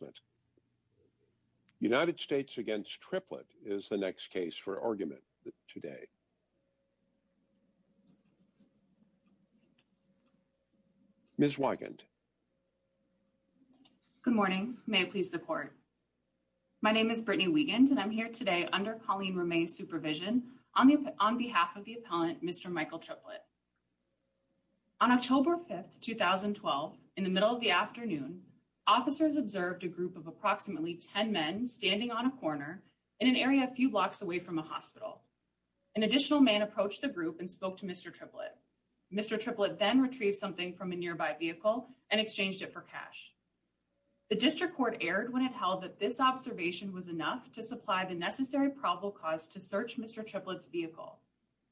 Good morning. May it please the court. My name is Brittany Wiegand and I'm here today under Colleen Remay's supervision on behalf of the appellant, Mr. Michael Triplett. On October 5th, 2012, in the middle of the afternoon, officers observed a group of approximately 10 men standing on a corner in an area a few blocks away from a hospital. An additional man approached the group and spoke to Mr. Triplett. Mr. Triplett then retrieved something from a nearby vehicle and exchanged it for cash. The district court erred when it held that this observation was enough to supply the necessary probable cause to search Mr. Triplett's vehicle.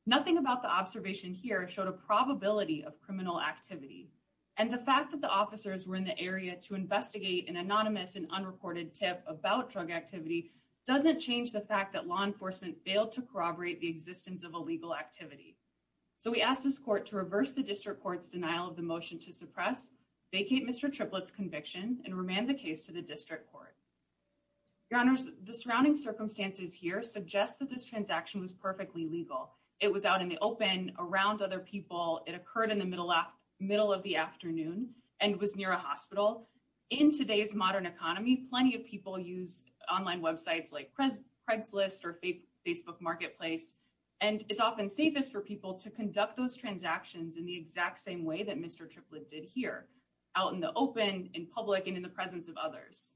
Nothing about the observation here showed a probability of criminal activity. And the fact that the officers were in the area to investigate an anonymous and unreported tip about drug activity doesn't change the fact that law enforcement failed to corroborate the existence of illegal activity. So we asked this court to reverse the district court's denial of the motion to suppress, vacate Mr. Triplett's conviction, and remand the case to the district court. Your Honors, the surrounding circumstances here suggest that this transaction was perfectly legal. It was out in the open, around other people, it occurred in the middle of the afternoon, and was near a hospital. In today's modern economy, plenty of people use online websites like Craigslist or Facebook Marketplace. And it's often safest for people to conduct those transactions in the exact same way that Mr. Triplett did here, out in the open, in public, and in the presence of others.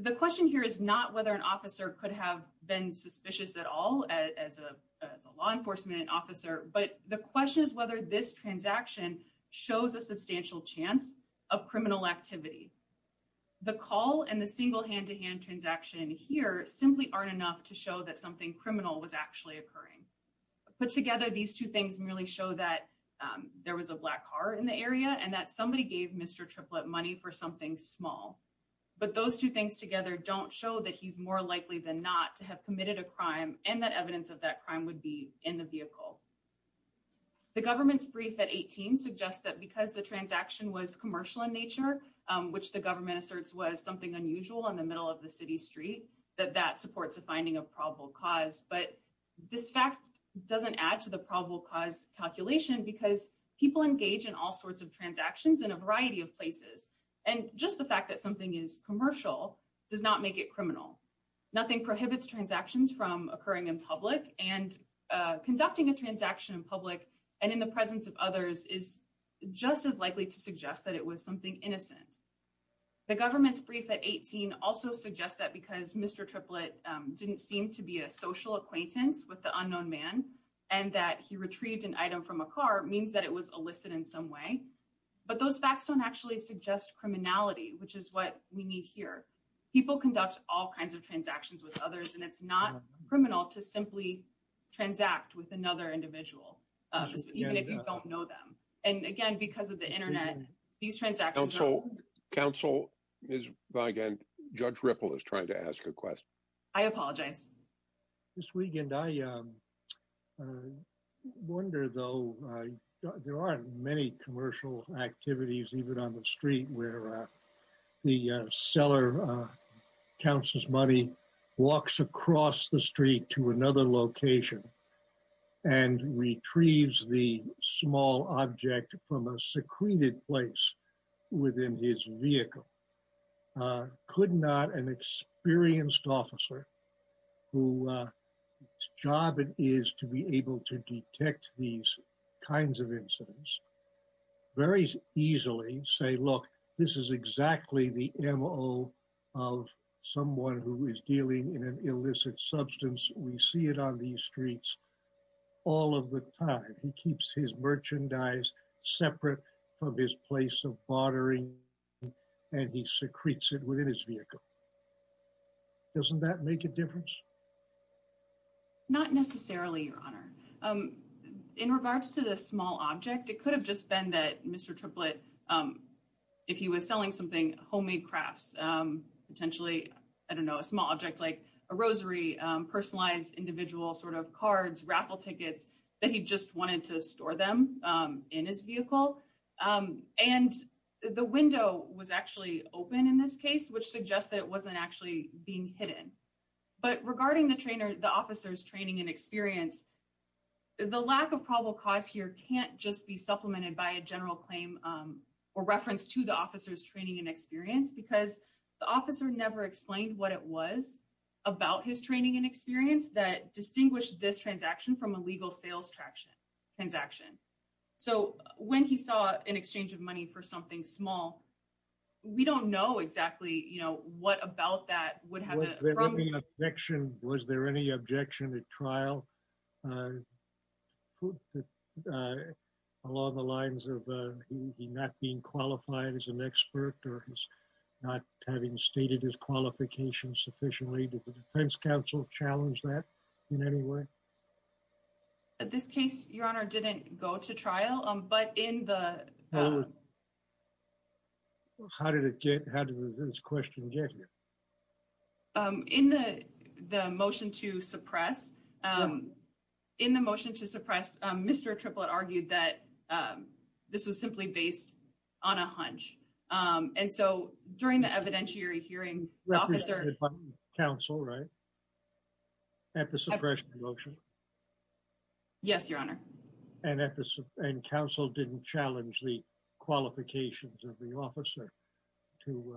The question here is not whether an officer could have been suspicious at all as a law enforcement officer, but the question is whether this transaction shows a substantial chance of criminal activity. The call and the single hand-to-hand transaction here simply aren't enough to show that something criminal was actually occurring. Put together, these two things merely show that there was a black car in the area and that somebody gave Mr. Triplett money for something small. But those two things together don't show that he's more likely than not to have committed a crime and that evidence of that crime would be in the vehicle. The government's brief at 18 suggests that because the transaction was commercial in nature, which the government asserts was something unusual in the middle of the city street, that that supports a finding of probable cause. But this fact doesn't add to the probable cause calculation because people engage in all sorts of transactions in a variety of places. And just the fact that something is commercial does not make it criminal. Nothing prohibits transactions from occurring in public, and conducting a transaction in public and in the presence of others is just as likely to suggest that it was something innocent. The government's brief at 18 also suggests that because Mr. Triplett didn't seem to be a social acquaintance with the unknown man and that he retrieved an item from a car means that it was illicit in some way. But those facts don't actually suggest criminality, which is what we need here. People conduct all kinds of transactions with others, and it's not criminal to simply transact with another individual, even if you don't know them. And again, because of the Internet, these transactions are- Counsel, Judge Ripple is trying to ask a question. I apologize. This weekend, I wonder, though, there aren't many commercial activities, even on the street, where the seller counts his money, walks across the street to another location, and retrieves the small object from a secreted place within his vehicle. Could not an experienced officer, whose job it is to be able to detect these kinds of incidents, very easily say, look, this is exactly the MO of someone who is dealing in an illicit substance. We see it on these streets all of the time. And he's got a lot of money in his pocket. He keeps his merchandise separate from his place of bartering, and he secretes it within his vehicle. Doesn't that make a difference? Not necessarily, Your Honor. In regards to the small object, it could have just been that Mr. Triplett, if he was selling something, homemade crafts, potentially, I don't know, a small object like a rosary, personalized individual sort of cards, raffle tickets, that he just wanted to store them in his vehicle. And the window was actually open in this case, which suggests that it wasn't actually being hidden. But regarding the trainer, the officer's training and experience, the lack of probable cause here can't just be supplemented by a general claim or reference to the officer's training and experience, because the officer never explained what it was about his training and experience that distinguished this transaction from a legal sales transaction. So when he saw an exchange of money for something small, we don't know exactly, you know, what about that would have... Was there any objection at trial along the lines of him not being qualified as an expert or not having stated his qualifications sufficiently? Did the defense counsel challenge that in any way? At this case, Your Honor, didn't go to trial, but in the... How did it get... How did this question get here? In the motion to suppress, in the motion to suppress, Mr. Triplett argued that this was simply based on a hunch. And so during the evidentiary hearing, the officer... Yes, Your Honor. And counsel didn't challenge the qualifications of the officer to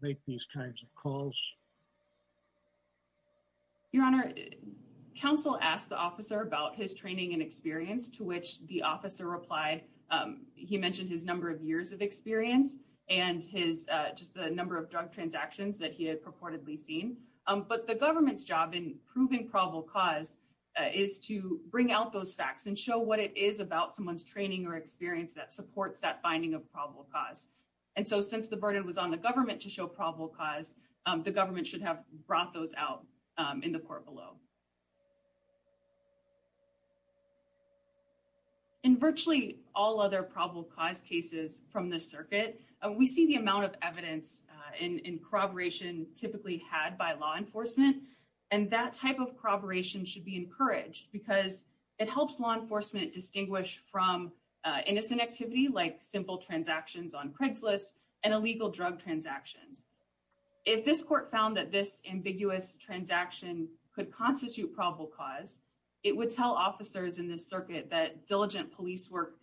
make these kinds of calls? Your Honor, counsel asked the officer about his training and experience to which the officer replied. He mentioned his number of years of experience and his just the number of drug transactions that he had purportedly seen. But the government's job in proving probable cause is to bring out those facts and show what it is about someone's training or experience that supports that finding of probable cause. And so since the burden was on the government to show probable cause, the government should have brought those out in the court below. In virtually all other probable cause cases from the circuit, we see the amount of evidence in corroboration typically had by law enforcement. And that type of corroboration should be encouraged because it helps law enforcement distinguish from innocent activity like simple transactions on Craigslist and illegal drug transactions. If this court found that this ambiguous transaction could constitute probable cause, it would tell officers in this circuit that diligent police work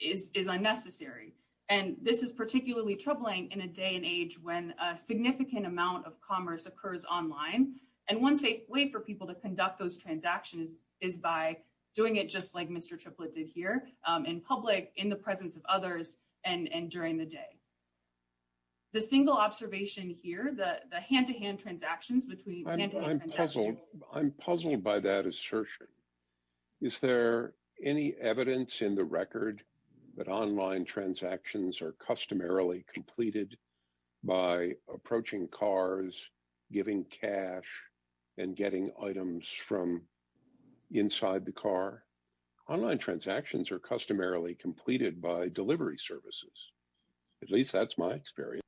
is unnecessary. And this is particularly troubling in a day and age when a significant amount of commerce occurs online. And one safe way for people to conduct those transactions is by doing it just like Mr. Triplett did here in public, in the presence of others, and during the day. The single observation here, the hand-to-hand transactions between... I'm puzzled by that assertion. Is there any evidence in the record that online transactions are customarily completed by approaching cars, giving cash, and getting items from inside the car? Online transactions are customarily completed by delivery services. At least that's my experience.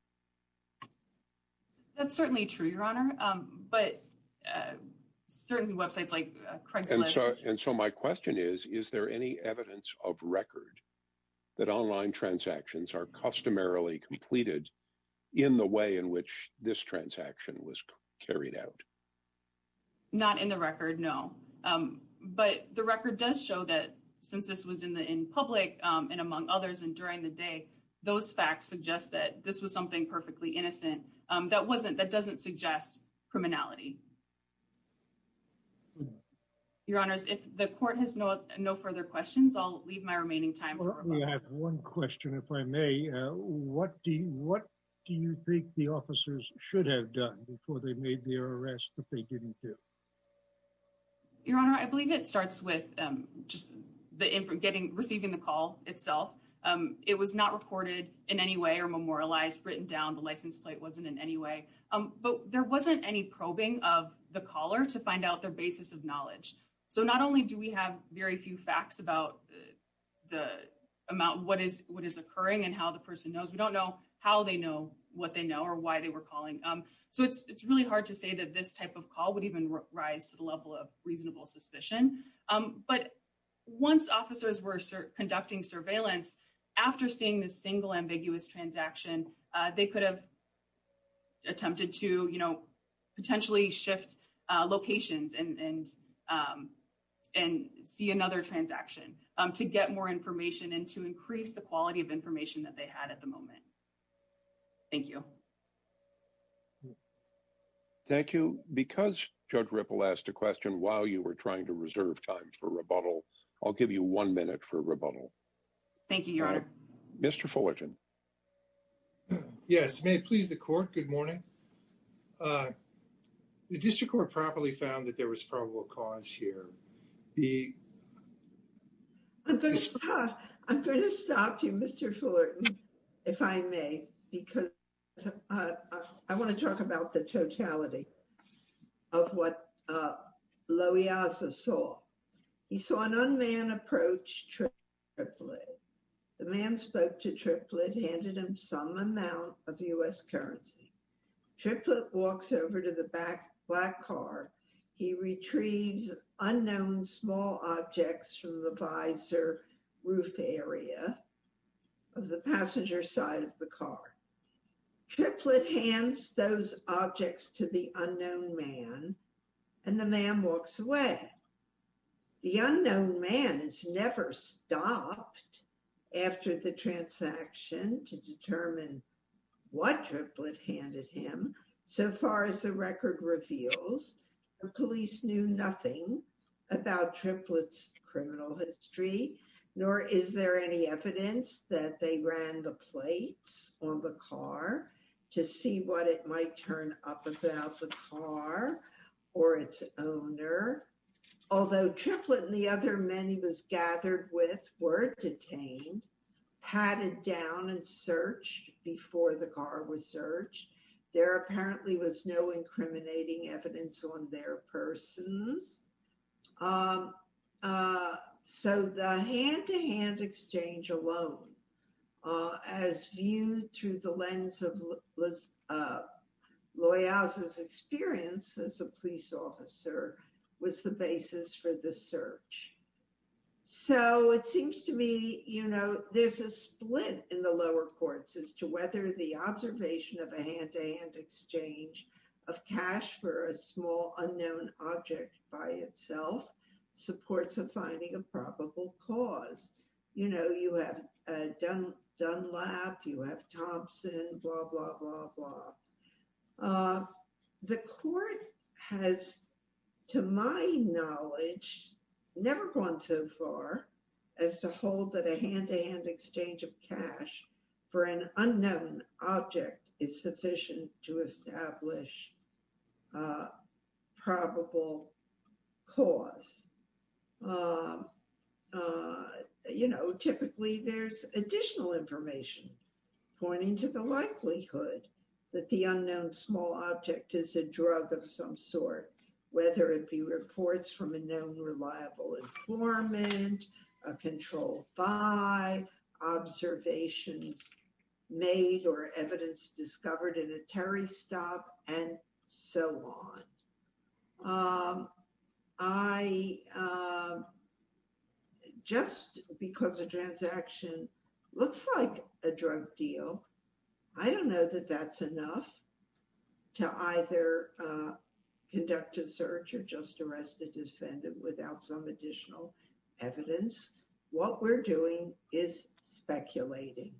That's certainly true, Your Honor. But certain websites like Craigslist... And so my question is, is there any evidence of record that online transactions are customarily completed in the way in which this transaction was carried out? Not in the record, no. But the record does show that since this was in public and among others and during the day, those facts suggest that this was something perfectly innocent. That doesn't suggest criminality. Your Honors, if the court has no further questions, I'll leave my remaining time for rebuttal. I do have one question, if I may. What do you think the officers should have done before they made their arrest that they didn't do? Your Honor, I believe it starts with just receiving the call itself. It was not recorded in any way or memorialized, written down. The license plate wasn't in any way. But there wasn't any probing of the caller to find out their basis of knowledge. So not only do we have very few facts about the amount, what is occurring and how the person knows. We don't know how they know, what they know or why they were calling. So it's really hard to say that this type of call would even rise to the level of reasonable suspicion. But once officers were conducting surveillance, after seeing this single ambiguous transaction, they could have attempted to potentially shift locations and see another transaction to get more information and to increase the quality of information that they had at the moment. Thank you. Thank you. Because Judge Ripple asked a question while you were trying to reserve time for rebuttal, I'll give you one minute for rebuttal. Thank you, Your Honor. Mr. Fullerton. Yes. May it please the court. Good morning. The district court properly found that there was probable cause here. The. I'm going to stop you, Mr. Fullerton. If I may, because I want to talk about the totality of what low he also saw. He saw an unmanned approach trip. The man spoke to triplet handed him some amount of US currency. Triplet walks over to the back black car. He retrieves unknown small objects from the visor roof area of the passenger side of the car. Triplet hands those objects to the unknown man, and the man walks away. The unknown man is never stopped after the transaction to determine what triplet handed him. So far as the record reveals, police knew nothing about triplets criminal history, nor is there any evidence that they ran the plates on the car to see what it might turn up about the car or its owner. Although triplet and the other many was gathered with were detained, padded down and searched before the car was searched. There apparently was no incriminating evidence on their persons. So the hand-to-hand exchange alone, as viewed through the lens of Loyal's experience as a police officer, was the basis for the search. So it seems to me, you know, there's a split in the lower courts as to whether the observation of a hand-to-hand exchange of cash for a small unknown object by itself supports of finding a probable cause. You know, you have Dunlap, you have Thompson, blah, blah, blah, blah. The court has, to my knowledge, never gone so far as to hold that a hand-to-hand exchange of cash for an unknown object is sufficient to establish probable cause. You know, typically there's additional information pointing to the likelihood that the unknown small object is a drug of some sort, whether it be reports from a known reliable informant, a controlled by, observations made or evidence discovered in a Terry stop, and so on. I, just because a transaction looks like a drug deal, I don't know that that's enough to either conduct a search or just arrest a defendant without some additional evidence. What we're doing is speculating.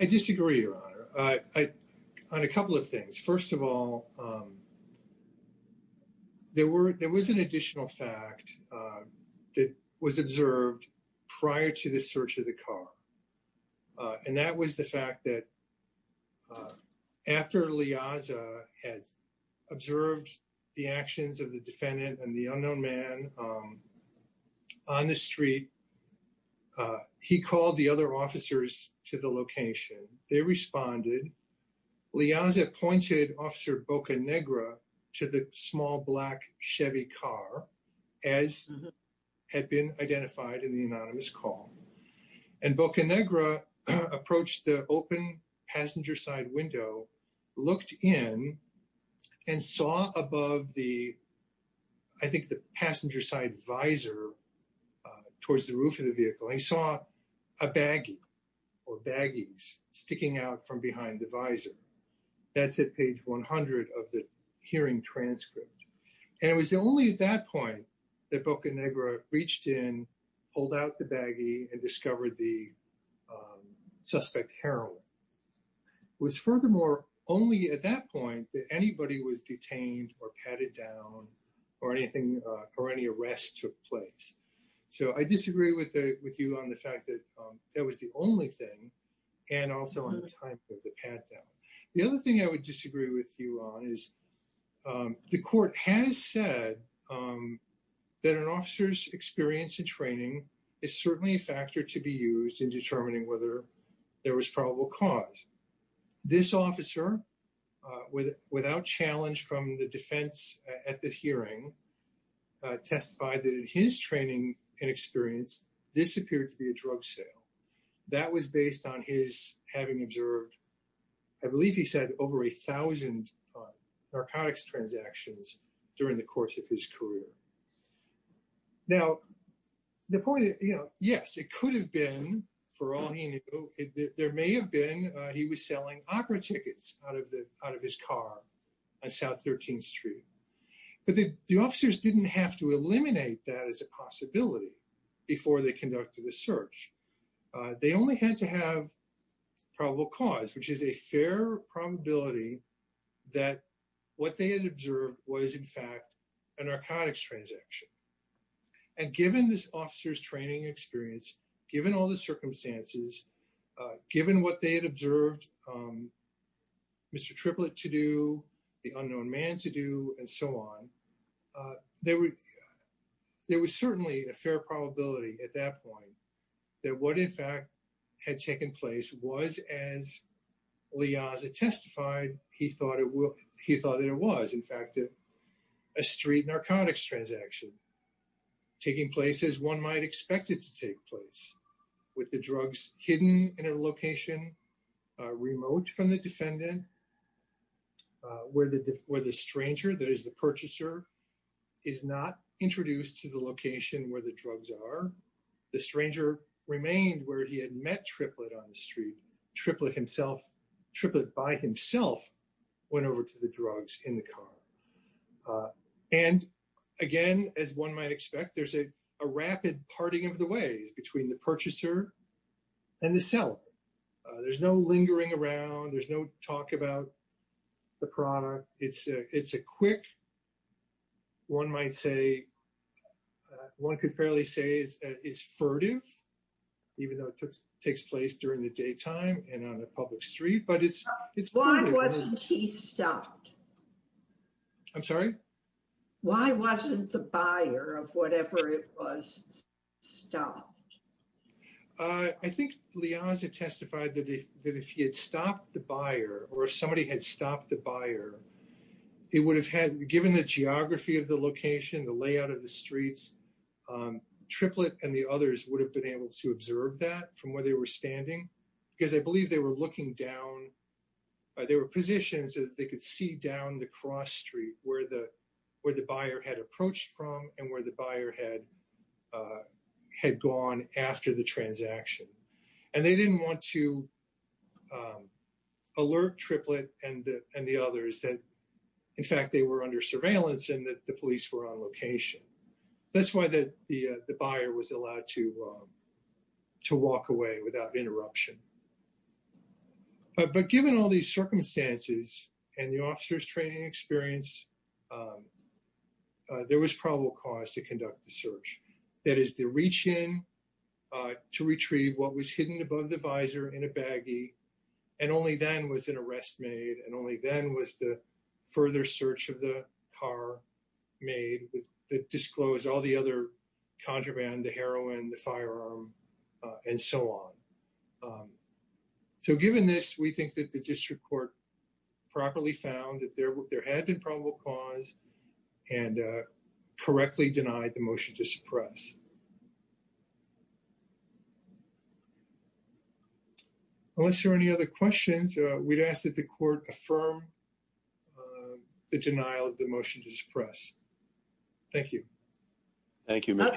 I disagree, Your Honor. On a couple of things. First of all, there was an additional fact that was observed prior to the search of the car. And that was the fact that after Liaza had observed the actions of the defendant and the unknown man on the street, he called the other officers to the location. They responded. Liaza pointed Officer Bocanegra to the small black Chevy car, as had been identified in the anonymous call. And Bocanegra approached the open passenger side window, looked in and saw above the, I think the passenger side visor towards the roof of the vehicle. He saw a baggie or baggies sticking out from behind the visor. That's at page 100 of the hearing transcript. And it was only at that point that Bocanegra reached in, pulled out the baggie and discovered the suspect heroin. It was furthermore only at that point that anybody was detained or patted down or anything, or any arrests took place. So I disagree with you on the fact that that was the only thing and also on the time of the pat down. The other thing I would disagree with you on is the court has said that an officer's experience in training is certainly a factor to be used in determining whether there was probable cause. This officer, without challenge from the defense at the hearing, testified that in his training and experience, this appeared to be a drug sale. That was based on his having observed, I believe he said, over a thousand narcotics transactions during the course of his career. Now, the point is, yes, it could have been, for all he knew, there may have been, he was selling opera tickets out of his car on South 13th Street. But the officers didn't have to eliminate that as a possibility before they conducted a search. They only had to have probable cause, which is a fair probability that what they had observed was, in fact, a narcotics transaction. And given this officer's training experience, given all the circumstances, given what they had observed Mr. Triplett to do, the unknown man to do, and so on, there was certainly a fair probability at that point that what, in fact, had taken place was, as Liaza testified, he thought that it was, in fact, a street narcotics transaction taking place as one might expect it to take place, with the drugs hidden in a location remote from the defendant, where the stranger, that is the purchaser, is not introduced to the location where the drugs are. The stranger remained where he had met Triplett on the street. Triplett himself, Triplett by himself, went over to the drugs in the car. And again, as one might expect, there's a rapid parting of the ways between the purchaser and the seller. There's no lingering around. There's no talk about the product. It's a quick, one might say, one could fairly say it's furtive, even though it takes place during the daytime and on a public street, but it's furtive. Why wasn't he stopped? I'm sorry? Why wasn't the buyer of whatever it was stopped? I think Liaza testified that if he had stopped the buyer, or if somebody had stopped the buyer, it would have had, given the geography of the location, the layout of the streets, Triplett and the others would have been able to observe that from where they were standing. Because I believe they were looking down, there were positions that they could see down the cross street where the buyer had approached from and where the buyer had gone after the transaction. And they didn't want to alert Triplett and the others that, in fact, they were under surveillance and that the police were on location. That's why the buyer was allowed to walk away without interruption. But given all these circumstances and the officer's training experience, there was probable cause to conduct the search. That is the reach in to retrieve what was hidden above the visor in a baggie. And only then was an arrest made. And only then was the further search of the car made that disclosed all the other contraband, the heroin, the firearm, and so on. So given this, we think that the district court properly found that there had been probable cause and correctly denied the motion to suppress. Unless there are any other questions, we'd ask that the court affirm the denial of the motion to suppress. Thank you. Thank you. May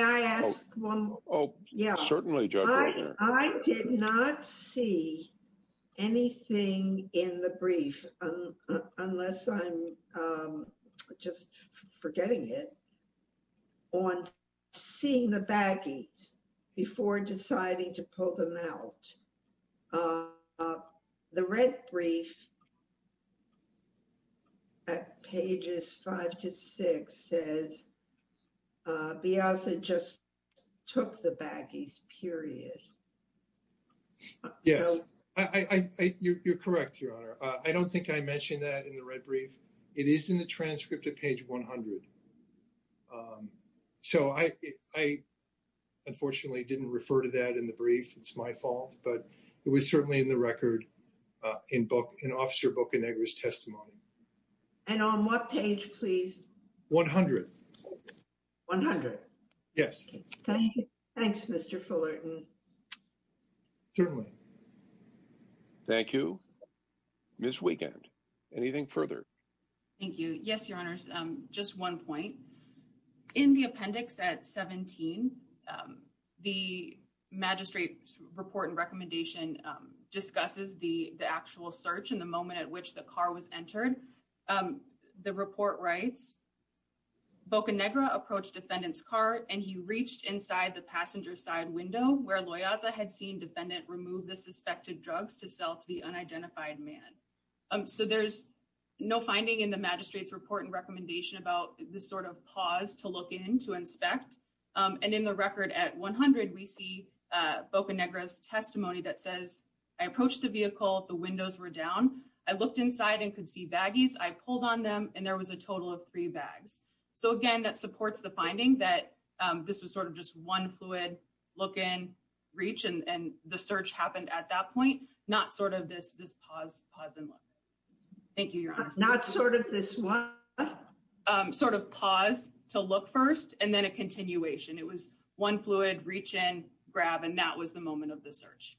I ask one? Oh, yeah. Certainly, Judge. I did not see anything in the brief, unless I'm just forgetting it, on seeing the baggies before deciding to pull them out. The red brief. Pages five to six says. Beyonce just took the baggies, period. Yes, I think you're correct. Your Honor, I don't think I mentioned that in the red brief. It is in the transcript of page one hundred. So I, unfortunately, didn't refer to that in the brief. It's my fault. But it was certainly in the record in an officer Bocanegra's testimony. And on what page, please? One hundred. One hundred. Yes. Thanks, Mr. Fullerton. Certainly. Ms. Wiegand, anything further? Thank you. Yes, Your Honor. Just one point. In the appendix at 17, the magistrate's report and recommendation discusses the actual search and the moment at which the car was entered. The report writes, Bocanegra approached defendant's car and he reached inside the passenger side window where Loyaza had seen defendant remove the suspected drugs to sell to the unidentified man. So there's no finding in the magistrate's report and recommendation about the sort of pause to look in to inspect. And in the record at one hundred, we see Bocanegra's testimony that says, I approached the vehicle, the windows were down. I looked inside and could see baggies. I pulled on them and there was a total of three bags. So again, that supports the finding that this was sort of just one fluid look in, reach, and the search happened at that point. Not sort of this pause, pause and look. Thank you, Your Honor. Not sort of this what? Sort of pause to look first and then a continuation. It was one fluid reach in, grab, and that was the moment of the search.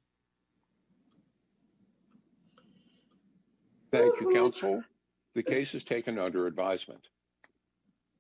Thank you, counsel. The case is taken under advisement. Thank you.